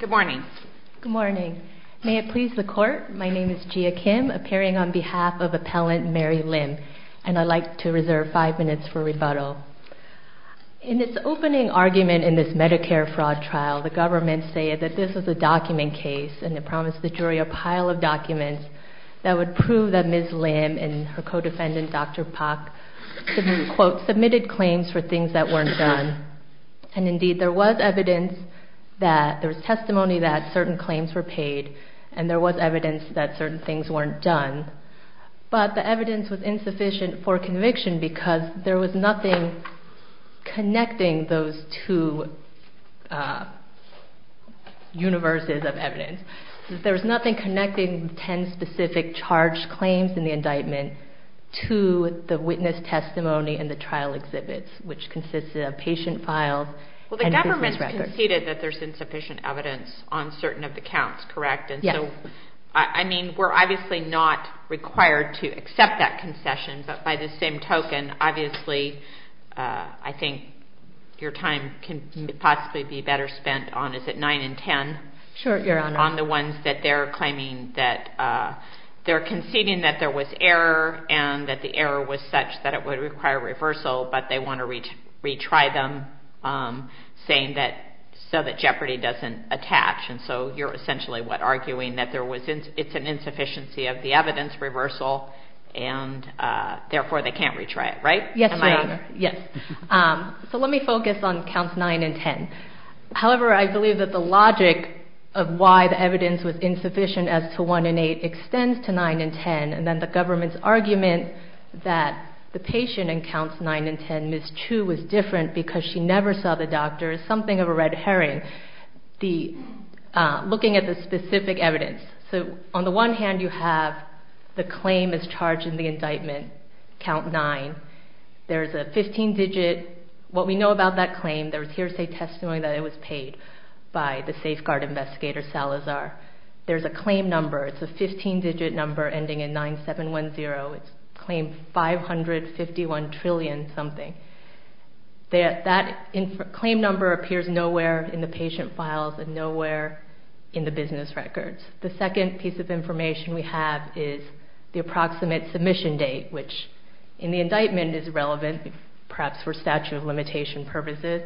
Good morning. May it please the court, my name is Gia Kim, appearing on behalf of Appellant Mary Lim, and I'd like to reserve five minutes for rebuttal. In its opening argument in this Medicare fraud trial, the government stated that this was a document case, and it promised the jury a pile of documents that would prove that Ms. Lim and her co-defendant, Dr. Pak, quote, submitted claims for things that weren't done. And indeed, there was evidence that, there was testimony that certain claims were paid, and there was evidence that certain things weren't done. But the evidence was insufficient for conviction because there was nothing connecting those two universes of evidence. There was nothing connecting ten specific charged claims in the trial exhibits, which consisted of patient files and business records. Well, the government conceded that there's insufficient evidence on certain of the counts, correct? Yes. And so, I mean, we're obviously not required to accept that concession, but by the same token, obviously, I think your time can possibly be better spent on, is it nine and ten? Sure, Your Honor. On the ones that they're claiming that, they're conceding that there was error, and that the error was such that it would require reversal, but they want to retry them, saying that, so that jeopardy doesn't attach. And so, you're essentially, what, arguing that there was, it's an insufficiency of the evidence reversal, and therefore, they can't retry it, right? Yes, Your Honor. Yes. So, let me focus on counts nine and ten. However, I believe that the logic of why the evidence was that the patient in counts nine and ten, Ms. Chu, was different, because she never saw the doctor, is something of a red herring. The, looking at the specific evidence. So, on the one hand, you have the claim is charged in the indictment, count nine. There's a 15-digit, what we know about that claim, there's hearsay testimony that it was paid by the safeguard investigator, Salazar. There's a claim number, it's a 15-digit number, ending in 9710. It's claimed 551 trillion something. That claim number appears nowhere in the patient files and nowhere in the business records. The second piece of information we have is the approximate submission date, which in the indictment is relevant, perhaps for statute of limitation purposes,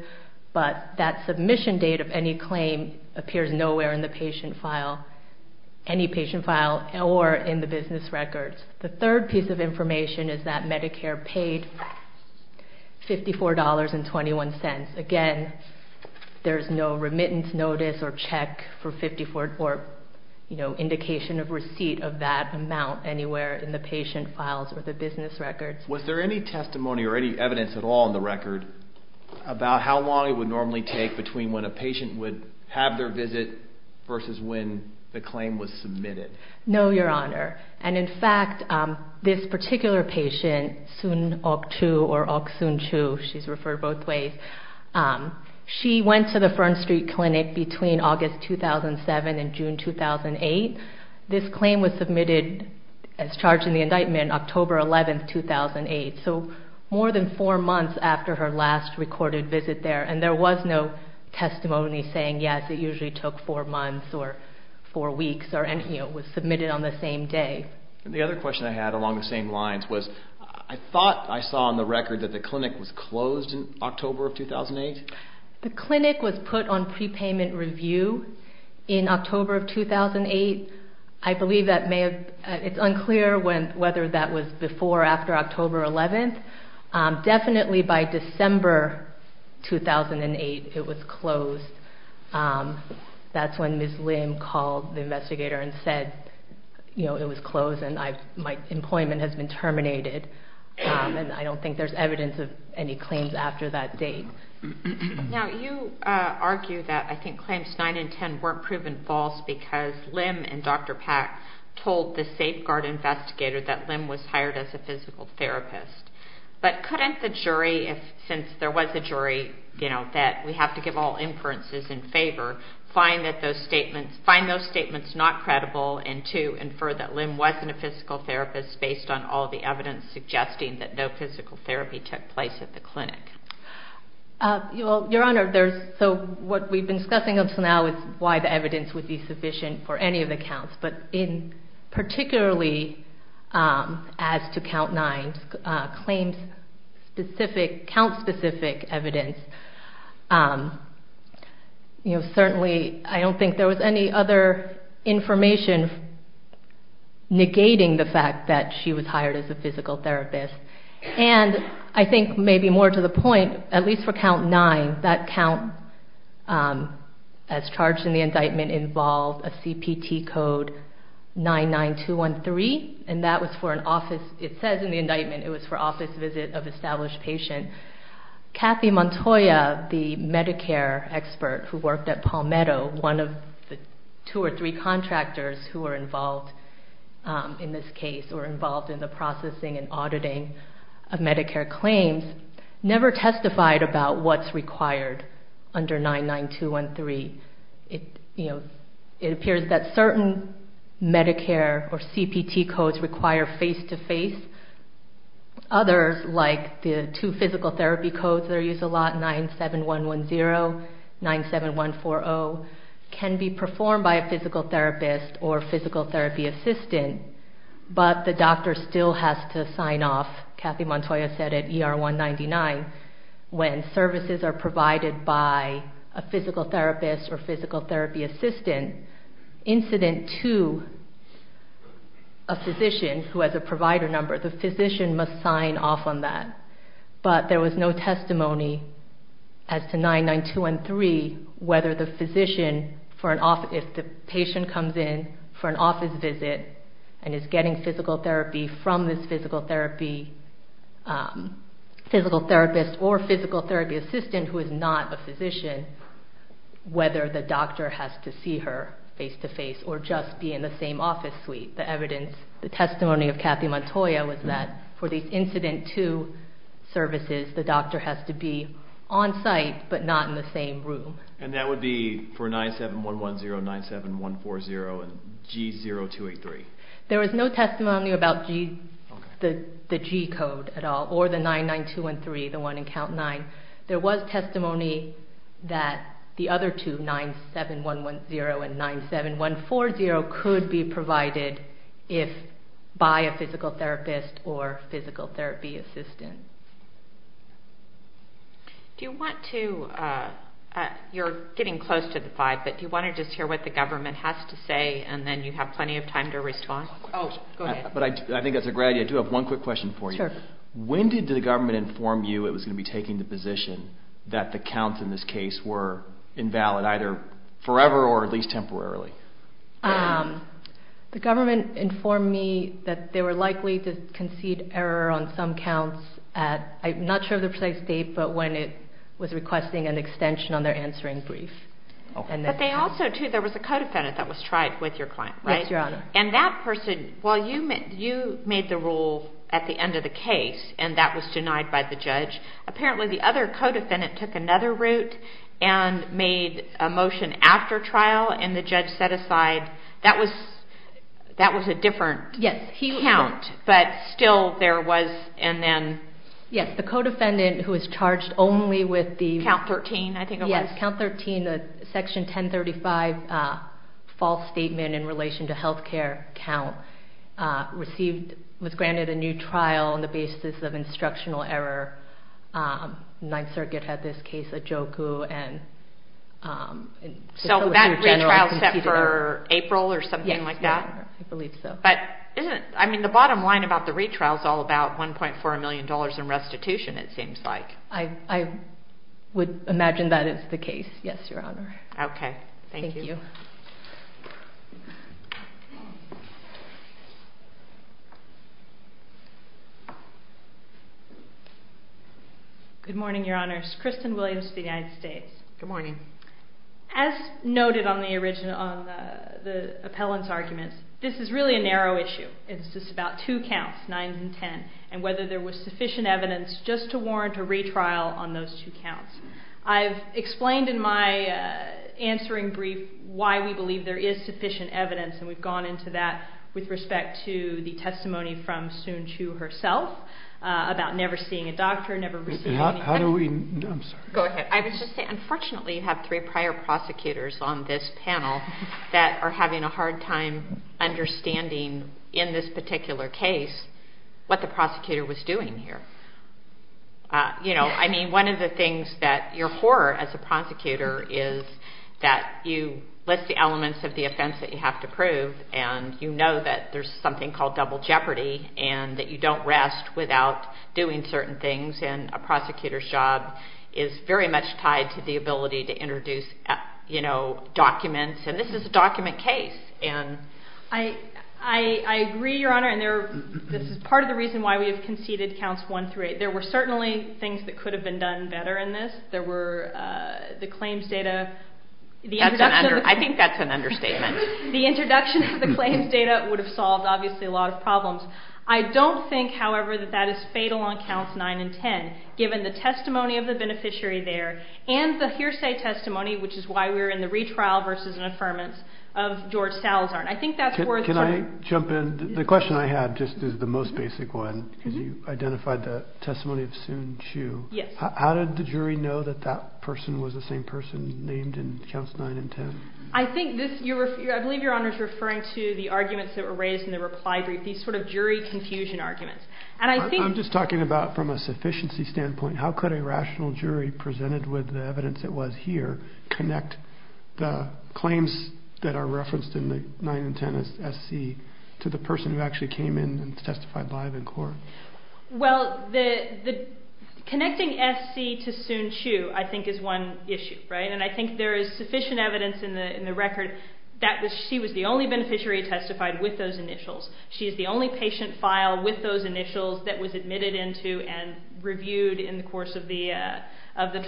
but that submission date of any claim appears nowhere in the patient file, any patient file, or in the business records. The third piece of information is that Medicare paid $54.21. Again, there's no remittance notice or check for 54, or, you know, indication of receipt of that amount anywhere in the patient files or the business records. Was there any testimony or any evidence at all in the record about how long it would normally take between when a patient would have their visit versus when the claim was submitted? No, Your Honor. And in fact, this particular patient, Soon Ok Choo, or Ok Soon Choo, she's referred both ways, she went to the Fern Street Clinic between August 2007 and June 2008. This claim was submitted as charged in the indictment October 11, 2008, so more than four months after her last recorded visit there, and there was no testimony saying, yes, it usually took four months or four weeks or anything, it was submitted on the same day. The other question I had along the same lines was, I thought I saw on the record that the clinic was closed in October of 2008? The clinic was put on prepayment review in October of 2008. I believe that may have, it's unclear whether that was before or after October 11. Definitely by December 2008, it was closed. That's when Ms. Lim called the investigator and said, you know, it was closed and my employment has been terminated, and I don't think there's evidence of any claims after that date. Now, you argue that I think claims 9 and 10 weren't proven false because Lim and Dr. Pack told the safeguard investigator that Lim was hired as a physical therapist, but couldn't the jury, since there was a jury, you know, that we have to give all inferences in favor, find those statements not credible and to infer that Lim wasn't a physical therapist based on all the evidence suggesting that no physical therapy took place at the clinic? Your Honor, so what we've been discussing up to now is why the evidence would be sufficient for any of the counts, but particularly as to count 9, claims specific, count specific evidence, you know, certainly I don't think there was any other information negating the fact that she was hired as a physical therapist, and I think maybe more to the point, at least for count 9, that count as charged in the indictment involved a CPT code 99213, and that was for an office, it says in the indictment it was for office visit of established patient. Kathy Montoya, the Medicare expert who worked at Palmetto, one of the two or three contractors who were involved in this case, or involved in the processing and auditing of Medicare claims, never testified about what's required under 99213. It appears that certain Medicare or CPT codes require face-to-face. Others, like the two physical therapy codes that are used a lot, 97110, 97140, can be performed by a physical therapist or physical therapy assistant, but the doctor still has to sign off. Kathy Montoya said at ER 199, when services are provided by a physical therapist or physical therapy assistant, incident to a physician who has a provider number, the physician must sign off on that, but there was no testimony as to 99213, whether the physician for an office, if the patient comes in for an office visit and is getting physical therapy from this physical therapist or physical therapy assistant who is not a physician, whether the doctor has to see her face-to-face or just be in the same office suite. The testimony of Kathy Montoya was that for these incident to services, the doctor has to be on site but not in the same room. And that would be for 97110, 97140, and G0283? There was no testimony about the G code at all, or the 99213, the one in Count 9. There was testimony that the other two, 97110 and 97140, could be provided if by a physical therapist or physical therapy assistant. You're getting close to the slide, but do you want to just hear what the government has to say and then you have plenty of time to respond? I think that's a great idea. I do have one quick question for you. When did the government inform you it was going to be taking the position that the counts in this case were invalid, either forever or at least temporarily? The government informed me that they were likely to concede error on some counts at, I'm not sure of the precise date, but when it was requesting an extension on their answering brief. But they also, too, there was a co-defendant that was tried with your client, right? Yes, Your Honor. And that person, while you made the rule at the end of the case and that was denied by the judge, apparently the other co-defendant took another route and made a motion after trial and the judge set aside, that was a different count, but still there was, and then... Yes, the co-defendant who was charged only with the... Count 13, I think it was. Yes, Count 13, the Section 1035 false statement in relation to health care count was granted a new trial on the basis of instructional error. Ninth Circuit had this case at JOKU and... So that retrial set for April or something like that? Yes, Your Honor, I believe so. But isn't, I mean, the bottom line about the retrial is all about $1.4 million in restitution, it seems like. I would imagine that is the case, yes, Your Honor. Okay, thank you. Thank you. Good morning, Your Honors. Kristen Williams, United States. Good morning. As noted on the appellant's arguments, this is really a narrow issue. It's just about two counts, 9 and 10, and whether there was sufficient evidence just to warrant a retrial on those two counts. I've explained in my answering brief why we believe there is sufficient evidence, and we've gone into that with respect to the testimony from Soon Chu herself about never seeing a doctor, never receiving... How do we... I'm sorry. We have three prior prosecutors on this panel that are having a hard time understanding, in this particular case, what the prosecutor was doing here. You know, I mean, one of the things that you're for as a prosecutor is that you list the elements of the offense that you have to prove, and you know that there's something called double jeopardy and that you don't rest without doing certain things, and a prosecutor's job is very much tied to the ability to introduce documents, and this is a document case. I agree, Your Honor, and this is part of the reason why we have conceded counts 1 through 8. There were certainly things that could have been done better in this. There were the claims data. I think that's an understatement. The introduction of the claims data would have solved, obviously, a lot of problems. I don't think, however, that that is fatal on counts 9 and 10, given the testimony of the beneficiary there and the hearsay testimony, which is why we're in the retrial versus an affirmance of George Salazar, and I think that's worth... Can I jump in? The question I had just is the most basic one, because you identified the testimony of Soon Chiu. Yes. How did the jury know that that person was the same person named in counts 9 and 10? I believe Your Honor is referring to the arguments that were raised in the reply brief, these sort of jury confusion arguments, and I think... I'm just talking about from a sufficiency standpoint. How could a rational jury, presented with the evidence that was here, connect the claims that are referenced in the 9 and 10 SC to the person who actually came in and testified live in court? Well, connecting SC to Soon Chiu, I think, is one issue, right? And I think there is sufficient evidence in the record that she was the only beneficiary who testified with those initials. She is the only patient filed with those initials that was admitted into and reviewed in the course of the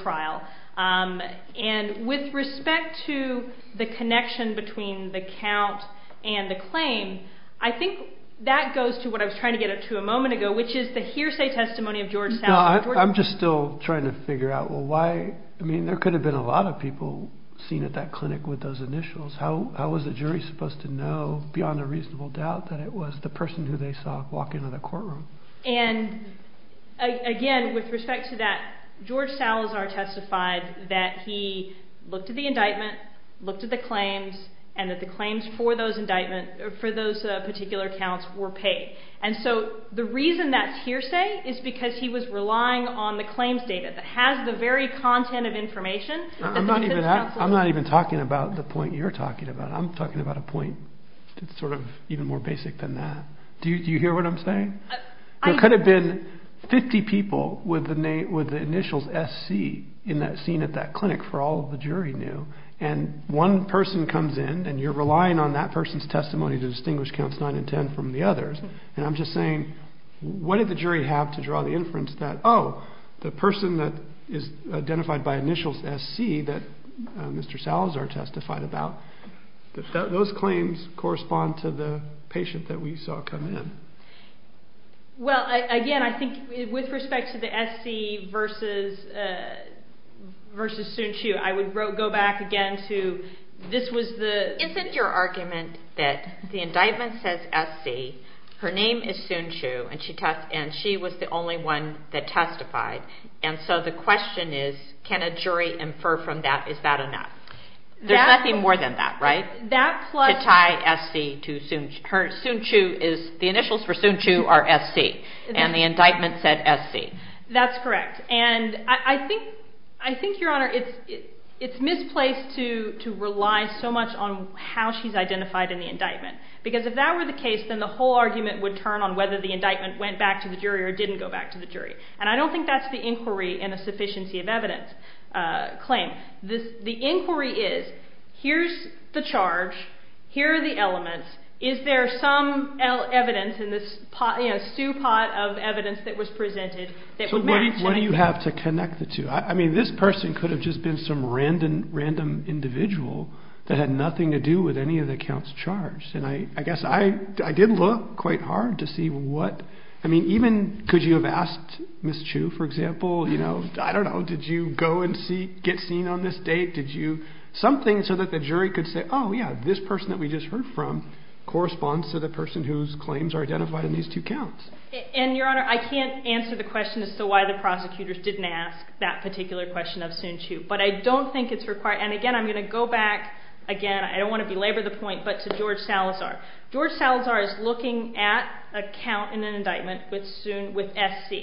trial. And with respect to the connection between the count and the claim, I think that goes to what I was trying to get up to a moment ago, which is the hearsay testimony of George Salazar. I'm just still trying to figure out, well, why? I mean, there could have been a lot of people seen at that clinic with those initials. How was the jury supposed to know, beyond a reasonable doubt, that it was the person who they saw walk into the courtroom? And, again, with respect to that, George Salazar testified that he looked at the indictment, looked at the claims, and that the claims for those indictments, for those particular counts, were paid. And so the reason that's hearsay is because he was relying on the claims data that has the very content of information... I'm not even talking about the point you're talking about. I'm talking about a point that's sort of even more basic than that. Do you hear what I'm saying? There could have been 50 people with the initials SC seen at that clinic for all the jury knew, and one person comes in, and you're relying on that person's testimony to distinguish counts 9 and 10 from the others. And I'm just saying, what did the jury have to draw the inference that, oh, the person that is identified by initials SC that Mr. Salazar testified about, those claims correspond to the patient that we saw come in. Well, again, I think with respect to the SC versus Sun Qu, I would go back again to this was the... Isn't your argument that the indictment says SC, her name is Sun Qu, and she was the only one that testified, and so the question is can a jury infer from that, is that enough? There's nothing more than that, right? To tie SC to Sun Qu. The initials for Sun Qu are SC, and the indictment said SC. That's correct, and I think, Your Honor, it's misplaced to rely so much on how she's identified in the indictment, because if that were the case, then the whole argument would turn on whether the indictment went back to the jury or didn't go back to the jury, and I don't think that's the inquiry in a sufficiency of evidence claim. The inquiry is here's the charge, here are the elements, is there some evidence in this stew pot of evidence that was presented that would match? So what do you have to connect the two? I mean this person could have just been some random individual that had nothing to do with any of the counts charged, and I guess I did look quite hard to see what, I mean even could you have asked Ms. Chu, for example, I don't know, did you go and get seen on this date, did you, something so that the jury could say, oh yeah, this person that we just heard from corresponds to the person whose claims are identified in these two counts. And, Your Honor, I can't answer the question as to why the prosecutors didn't ask that particular question of Sun Qu, but I don't think it's required, and again I'm going to go back, again I don't want to belabor the point, but to George Salazar. George Salazar is looking at a count in an indictment with SC.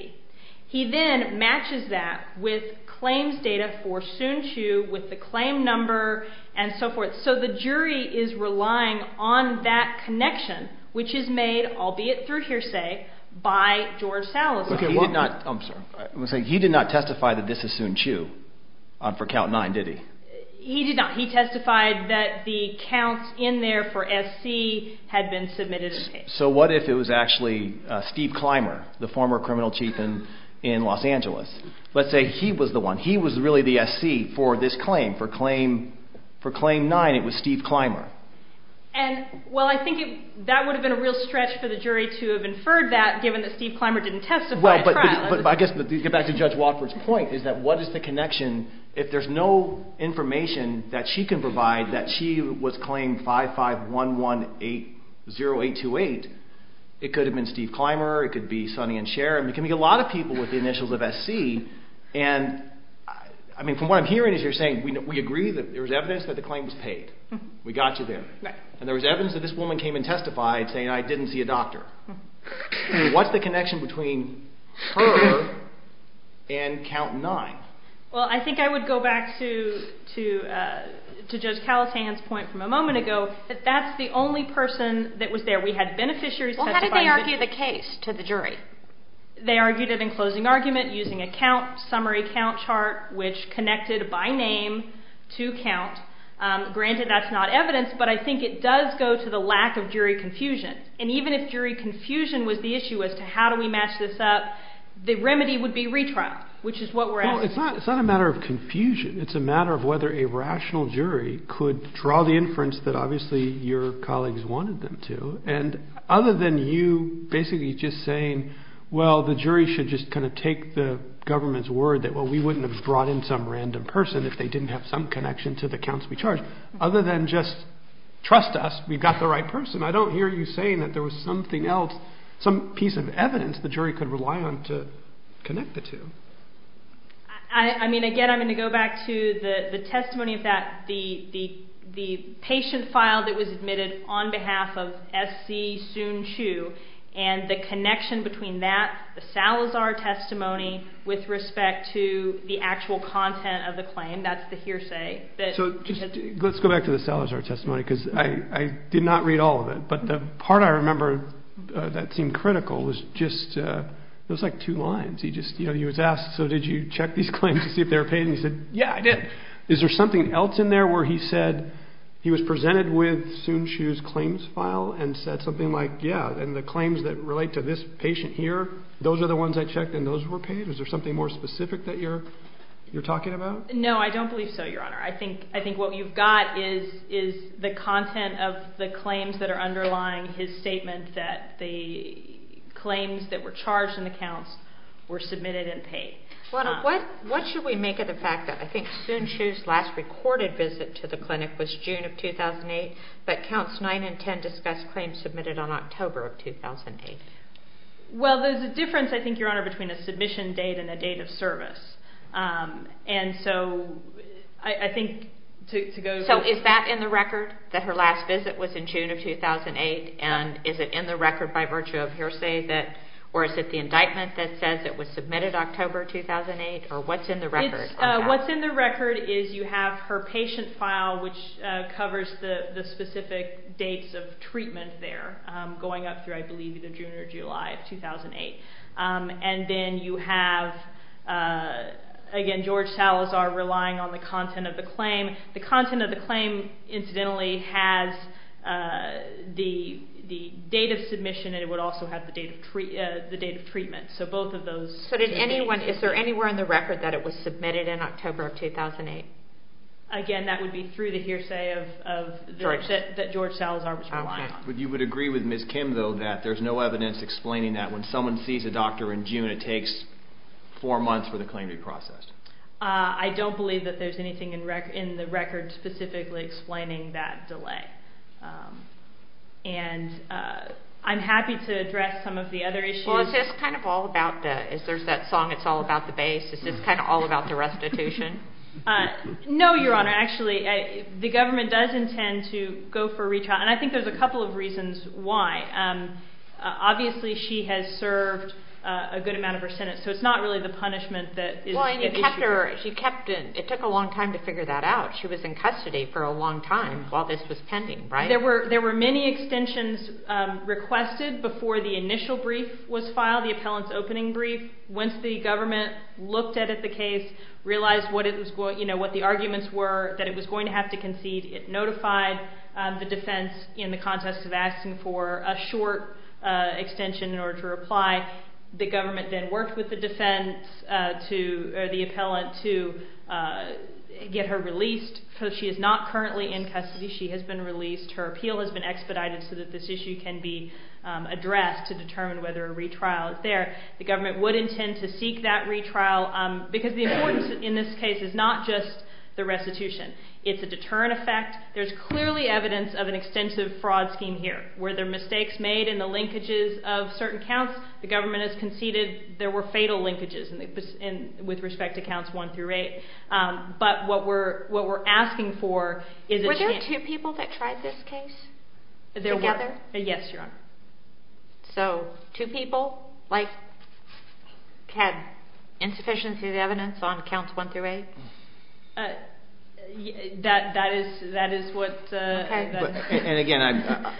He then matches that with claims data for Sun Qu with the claim number and so forth. So the jury is relying on that connection, which is made, albeit through hearsay, by George Salazar. He did not testify that this is Sun Qu for count 9, did he? He did not. He testified that the counts in there for SC had been submitted. So what if it was actually Steve Clymer, the former criminal chief in Los Angeles? Let's say he was the one, he was really the SC for this claim, for claim 9 it was Steve Clymer. And, well, I think that would have been a real stretch for the jury to have inferred that, given that Steve Clymer didn't testify at trial. But I guess, to get back to Judge Watford's point, is that what is the connection if there's no information that she can provide that she was claim 551180828, it could have been Steve Clymer, it could be Sonny and Sharon, it could be a lot of people with the initials of SC. And, I mean, from what I'm hearing is you're saying we agree that there was evidence that the claim was paid. We got you there. And there was evidence that this woman came and testified saying, I didn't see a doctor. What's the connection between her and count 9? Well, I think I would go back to Judge Calatay's point from a moment ago that that's the only person that was there. We had beneficiaries testify. Well, how did they argue the case to the jury? They argued it in closing argument using a count, summary count chart, which connected by name to count. Granted, that's not evidence, but I think it does go to the lack of jury confusion. And even if jury confusion was the issue as to how do we match this up, the remedy would be retrial, which is what we're asking. Well, it's not a matter of confusion. It's a matter of whether a rational jury could draw the inference that obviously your colleagues wanted them to. And other than you basically just saying, well, the jury should just kind of take the government's word that, well, we wouldn't have brought in some random person if they didn't have some connection to the counts we charged. Other than just trust us, we've got the right person. I don't hear you saying that there was something else, some piece of evidence the jury could rely on to connect the two. I mean, again, I'm going to go back to the testimony of that, the patient file that was admitted on behalf of S.C. Soon-Chu and the connection between that, the Salazar testimony, with respect to the actual content of the claim. That's the hearsay. Let's go back to the Salazar testimony because I did not read all of it. But the part I remember that seemed critical was just, it was like two lines. He was asked, so did you check these claims to see if they were paid? And he said, yeah, I did. Is there something else in there where he said he was presented with Soon-Chu's claims file and said something like, yeah, and the claims that relate to this patient here, those are the ones I checked and those were paid? Is there something more specific that you're talking about? No, I don't believe so, Your Honor. I think what you've got is the content of the claims that are underlying his statement that the claims that were charged in the counts were submitted and paid. What should we make of the fact that I think Soon-Chu's last recorded visit to the clinic was June of 2008, but Counts 9 and 10 discussed claims submitted on October of 2008? Well, there's a difference, I think, Your Honor, between a submission date and a date of service. And so I think to go to the... So is that in the record, that her last visit was in June of 2008, and is it in the record by virtue of hearsay, or is it the indictment that says it was submitted October 2008, or what's in the record? What's in the record is you have her patient file, which covers the specific dates of treatment there, going up through, I believe, either June or July of 2008. And then you have, again, George Salazar relying on the content of the claim. The content of the claim, incidentally, has the date of submission, and it would also have the date of treatment. So both of those... So is there anywhere in the record that it was submitted in October of 2008? Again, that would be through the hearsay that George Salazar was relying on. But you would agree with Ms. Kim, though, that there's no evidence explaining that when someone sees a doctor in June, it takes four months for the claim to be processed? I don't believe that there's anything in the record specifically explaining that delay. And I'm happy to address some of the other issues. Well, is this kind of all about the... Is there that song, It's All About the Bass? Is this kind of all about the restitution? No, Your Honor. Actually, the government does intend to go for retrial, and I think there's a couple of reasons why. Obviously, she has served a good amount of her sentence, so it's not really the punishment that is at issue. Well, and she kept it. It took a long time to figure that out. She was in custody for a long time while this was pending, right? There were many extensions requested before the initial brief was filed, the appellant's opening brief. Once the government looked at the case, realized what the arguments were, that it was going to have to concede, it notified the defense in the context of asking for a short extension in order to reply. The government then worked with the defense or the appellant to get her released. She is not currently in custody. She has been released. Her appeal has been expedited so that this issue can be addressed to determine whether a retrial is there. The government would intend to seek that retrial because the importance in this case is not just the restitution. It's a deterrent effect. There's clearly evidence of an extensive fraud scheme here. Were there mistakes made in the linkages of certain counts? The government has conceded there were fatal linkages with respect to counts 1 through 8. But what we're asking for is a chance... Were there two people that tried this case together? Yes, Your Honor. So, two people? Like, had insufficient evidence on counts 1 through 8? That is what... And again, I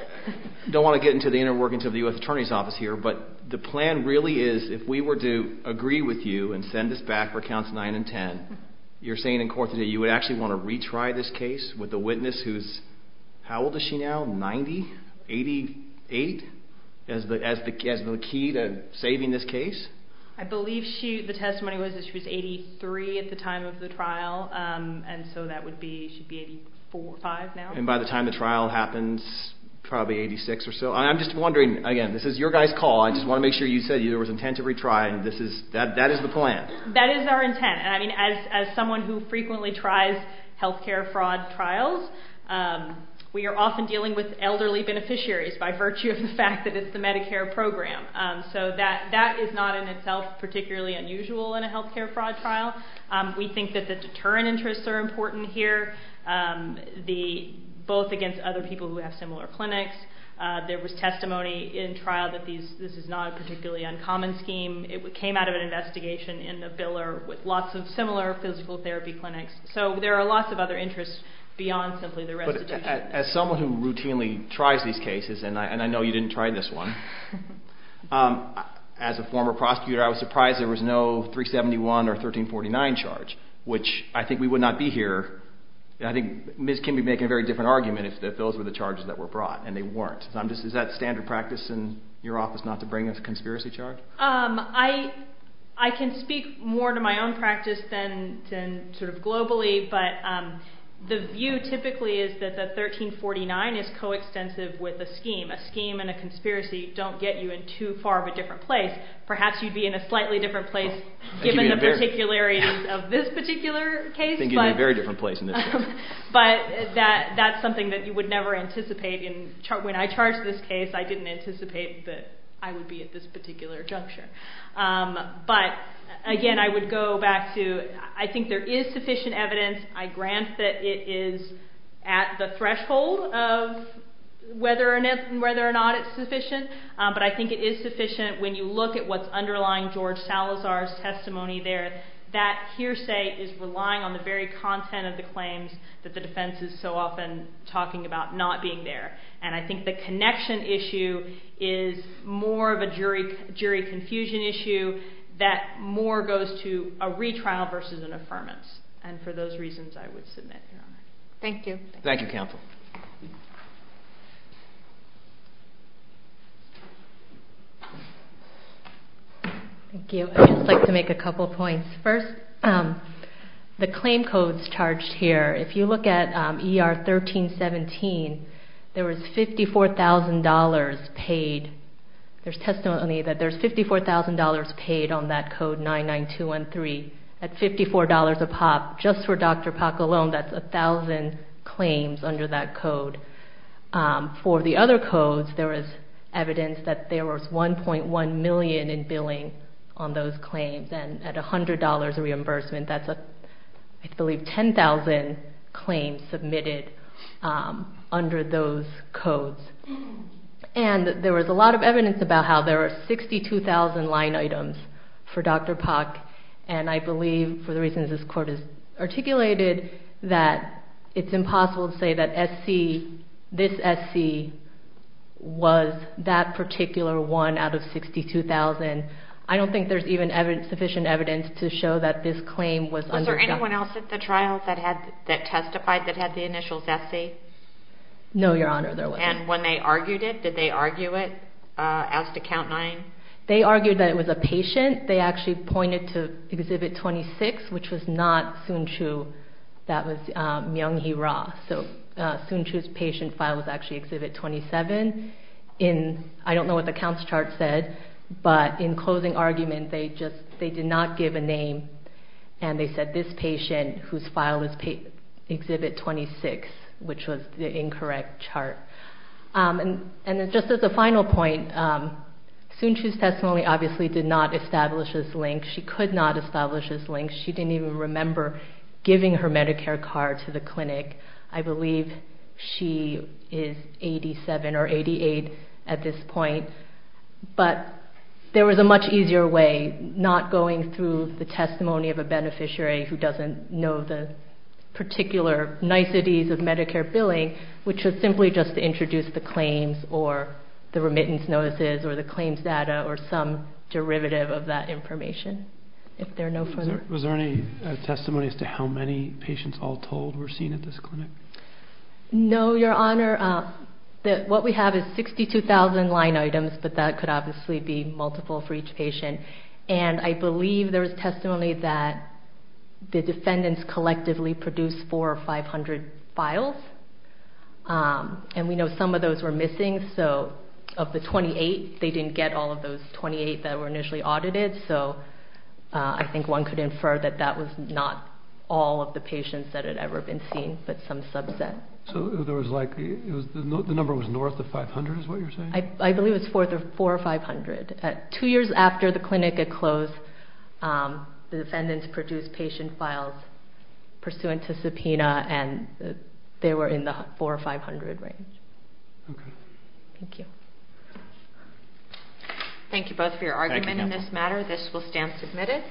don't want to get into the inner workings of the U.S. Attorney's Office here, but the plan really is if we were to agree with you and send this back for counts 9 and 10, you're saying in court today you would actually want to retry this case with a witness who's... How old is she now? 90? 88? As the key to saving this case? I believe the testimony was that she was 83 at the time of the trial, and so that would be... She'd be 85 now. And by the time the trial happens, probably 86 or so. I'm just wondering, again, this is your guy's call. I just want to make sure you said there was intent to retry, and this is... That is the plan. That is our intent. And, I mean, as someone who frequently tries health care fraud trials, we are often dealing with elderly beneficiaries by virtue of the fact that it's the Medicare program. So that is not in itself particularly unusual in a health care fraud trial. We think that the deterrent interests are important here, both against other people who have similar clinics. There was testimony in trial that this is not a particularly uncommon scheme. It came out of an investigation in the Biller with lots of similar physical therapy clinics. So there are lots of other interests beyond simply the restitution. As someone who routinely tries these cases, and I know you didn't try this one, as a former prosecutor I was surprised there was no 371 or 1349 charge, which I think we would not be here. I think Ms. Kimby would be making a very different argument if those were the charges that were brought, and they weren't. Is that standard practice in your office not to bring a conspiracy charge? I can speak more to my own practice than sort of globally, but the view typically is that the 1349 is coextensive with a scheme. A scheme and a conspiracy don't get you in too far of a different place. Perhaps you'd be in a slightly different place given the particularities of this particular case, but that's something that you would never anticipate. When I charged this case, I didn't anticipate that I would be at this particular juncture. But, again, I would go back to I think there is sufficient evidence. I grant that it is at the threshold of whether or not it's sufficient, but I think it is sufficient when you look at what's underlying George Salazar's testimony there. That hearsay is relying on the very content of the claims that the defense is so often talking about not being there. And I think the connection issue is more of a jury confusion issue that more goes to a retrial versus an affirmance. And for those reasons, I would submit. Thank you. Thank you, Campbell. Thank you. I'd just like to make a couple points. First, the claim codes charged here, if you look at ER 1317, there was $54,000 paid. There's testimony that there's $54,000 paid on that code 99213. At $54 a pop, just for Dr. Pak alone, that's 1,000 claims under that code. For the other codes, there was evidence that there was $1.1 million in billing on those claims. And at $100 a reimbursement, that's, I believe, 10,000 claims submitted under those codes. And there was a lot of evidence about how there were 62,000 line items for Dr. Pak. And I believe, for the reasons this Court has articulated, that it's impossible to say that this SC was that particular one out of 62,000. And I don't think there's even sufficient evidence to show that this claim was underdone. Was there anyone else at the trial that testified that had the initial Zessi? No, Your Honor, there wasn't. And when they argued it, did they argue it as to count nine? They argued that it was a patient. They actually pointed to Exhibit 26, which was not Soon-Chu. That was Myung-Hee Ra. So Soon-Chu's patient file was actually Exhibit 27. I don't know what the counts chart said, but in closing argument, they did not give a name. And they said this patient, whose file was Exhibit 26, which was the incorrect chart. And just as a final point, Soon-Chu's testimony obviously did not establish this link. She could not establish this link. She didn't even remember giving her Medicare card to the clinic. I believe she is 87 or 88 at this point. But there was a much easier way, not going through the testimony of a beneficiary who doesn't know the particular niceties of Medicare billing, which was simply just to introduce the claims or the remittance notices or the claims data or some derivative of that information. Was there any testimony as to how many patients all told were seen at this clinic? No, Your Honor. What we have is 62,000 line items, but that could obviously be multiple for each patient. And I believe there was testimony that the defendants collectively produced 400 or 500 files. And we know some of those were missing. So of the 28, they didn't get all of those 28 that were initially audited. So I think one could infer that that was not all of the patients that had ever been seen, but some subset. So the number was north of 500 is what you're saying? I believe it was 4 or 500. Two years after the clinic had closed, the defendants produced patient files pursuant to subpoena, and they were in the 4 or 500 range. Okay. Thank you. Thank you both for your argument in this matter. This will stand submitted.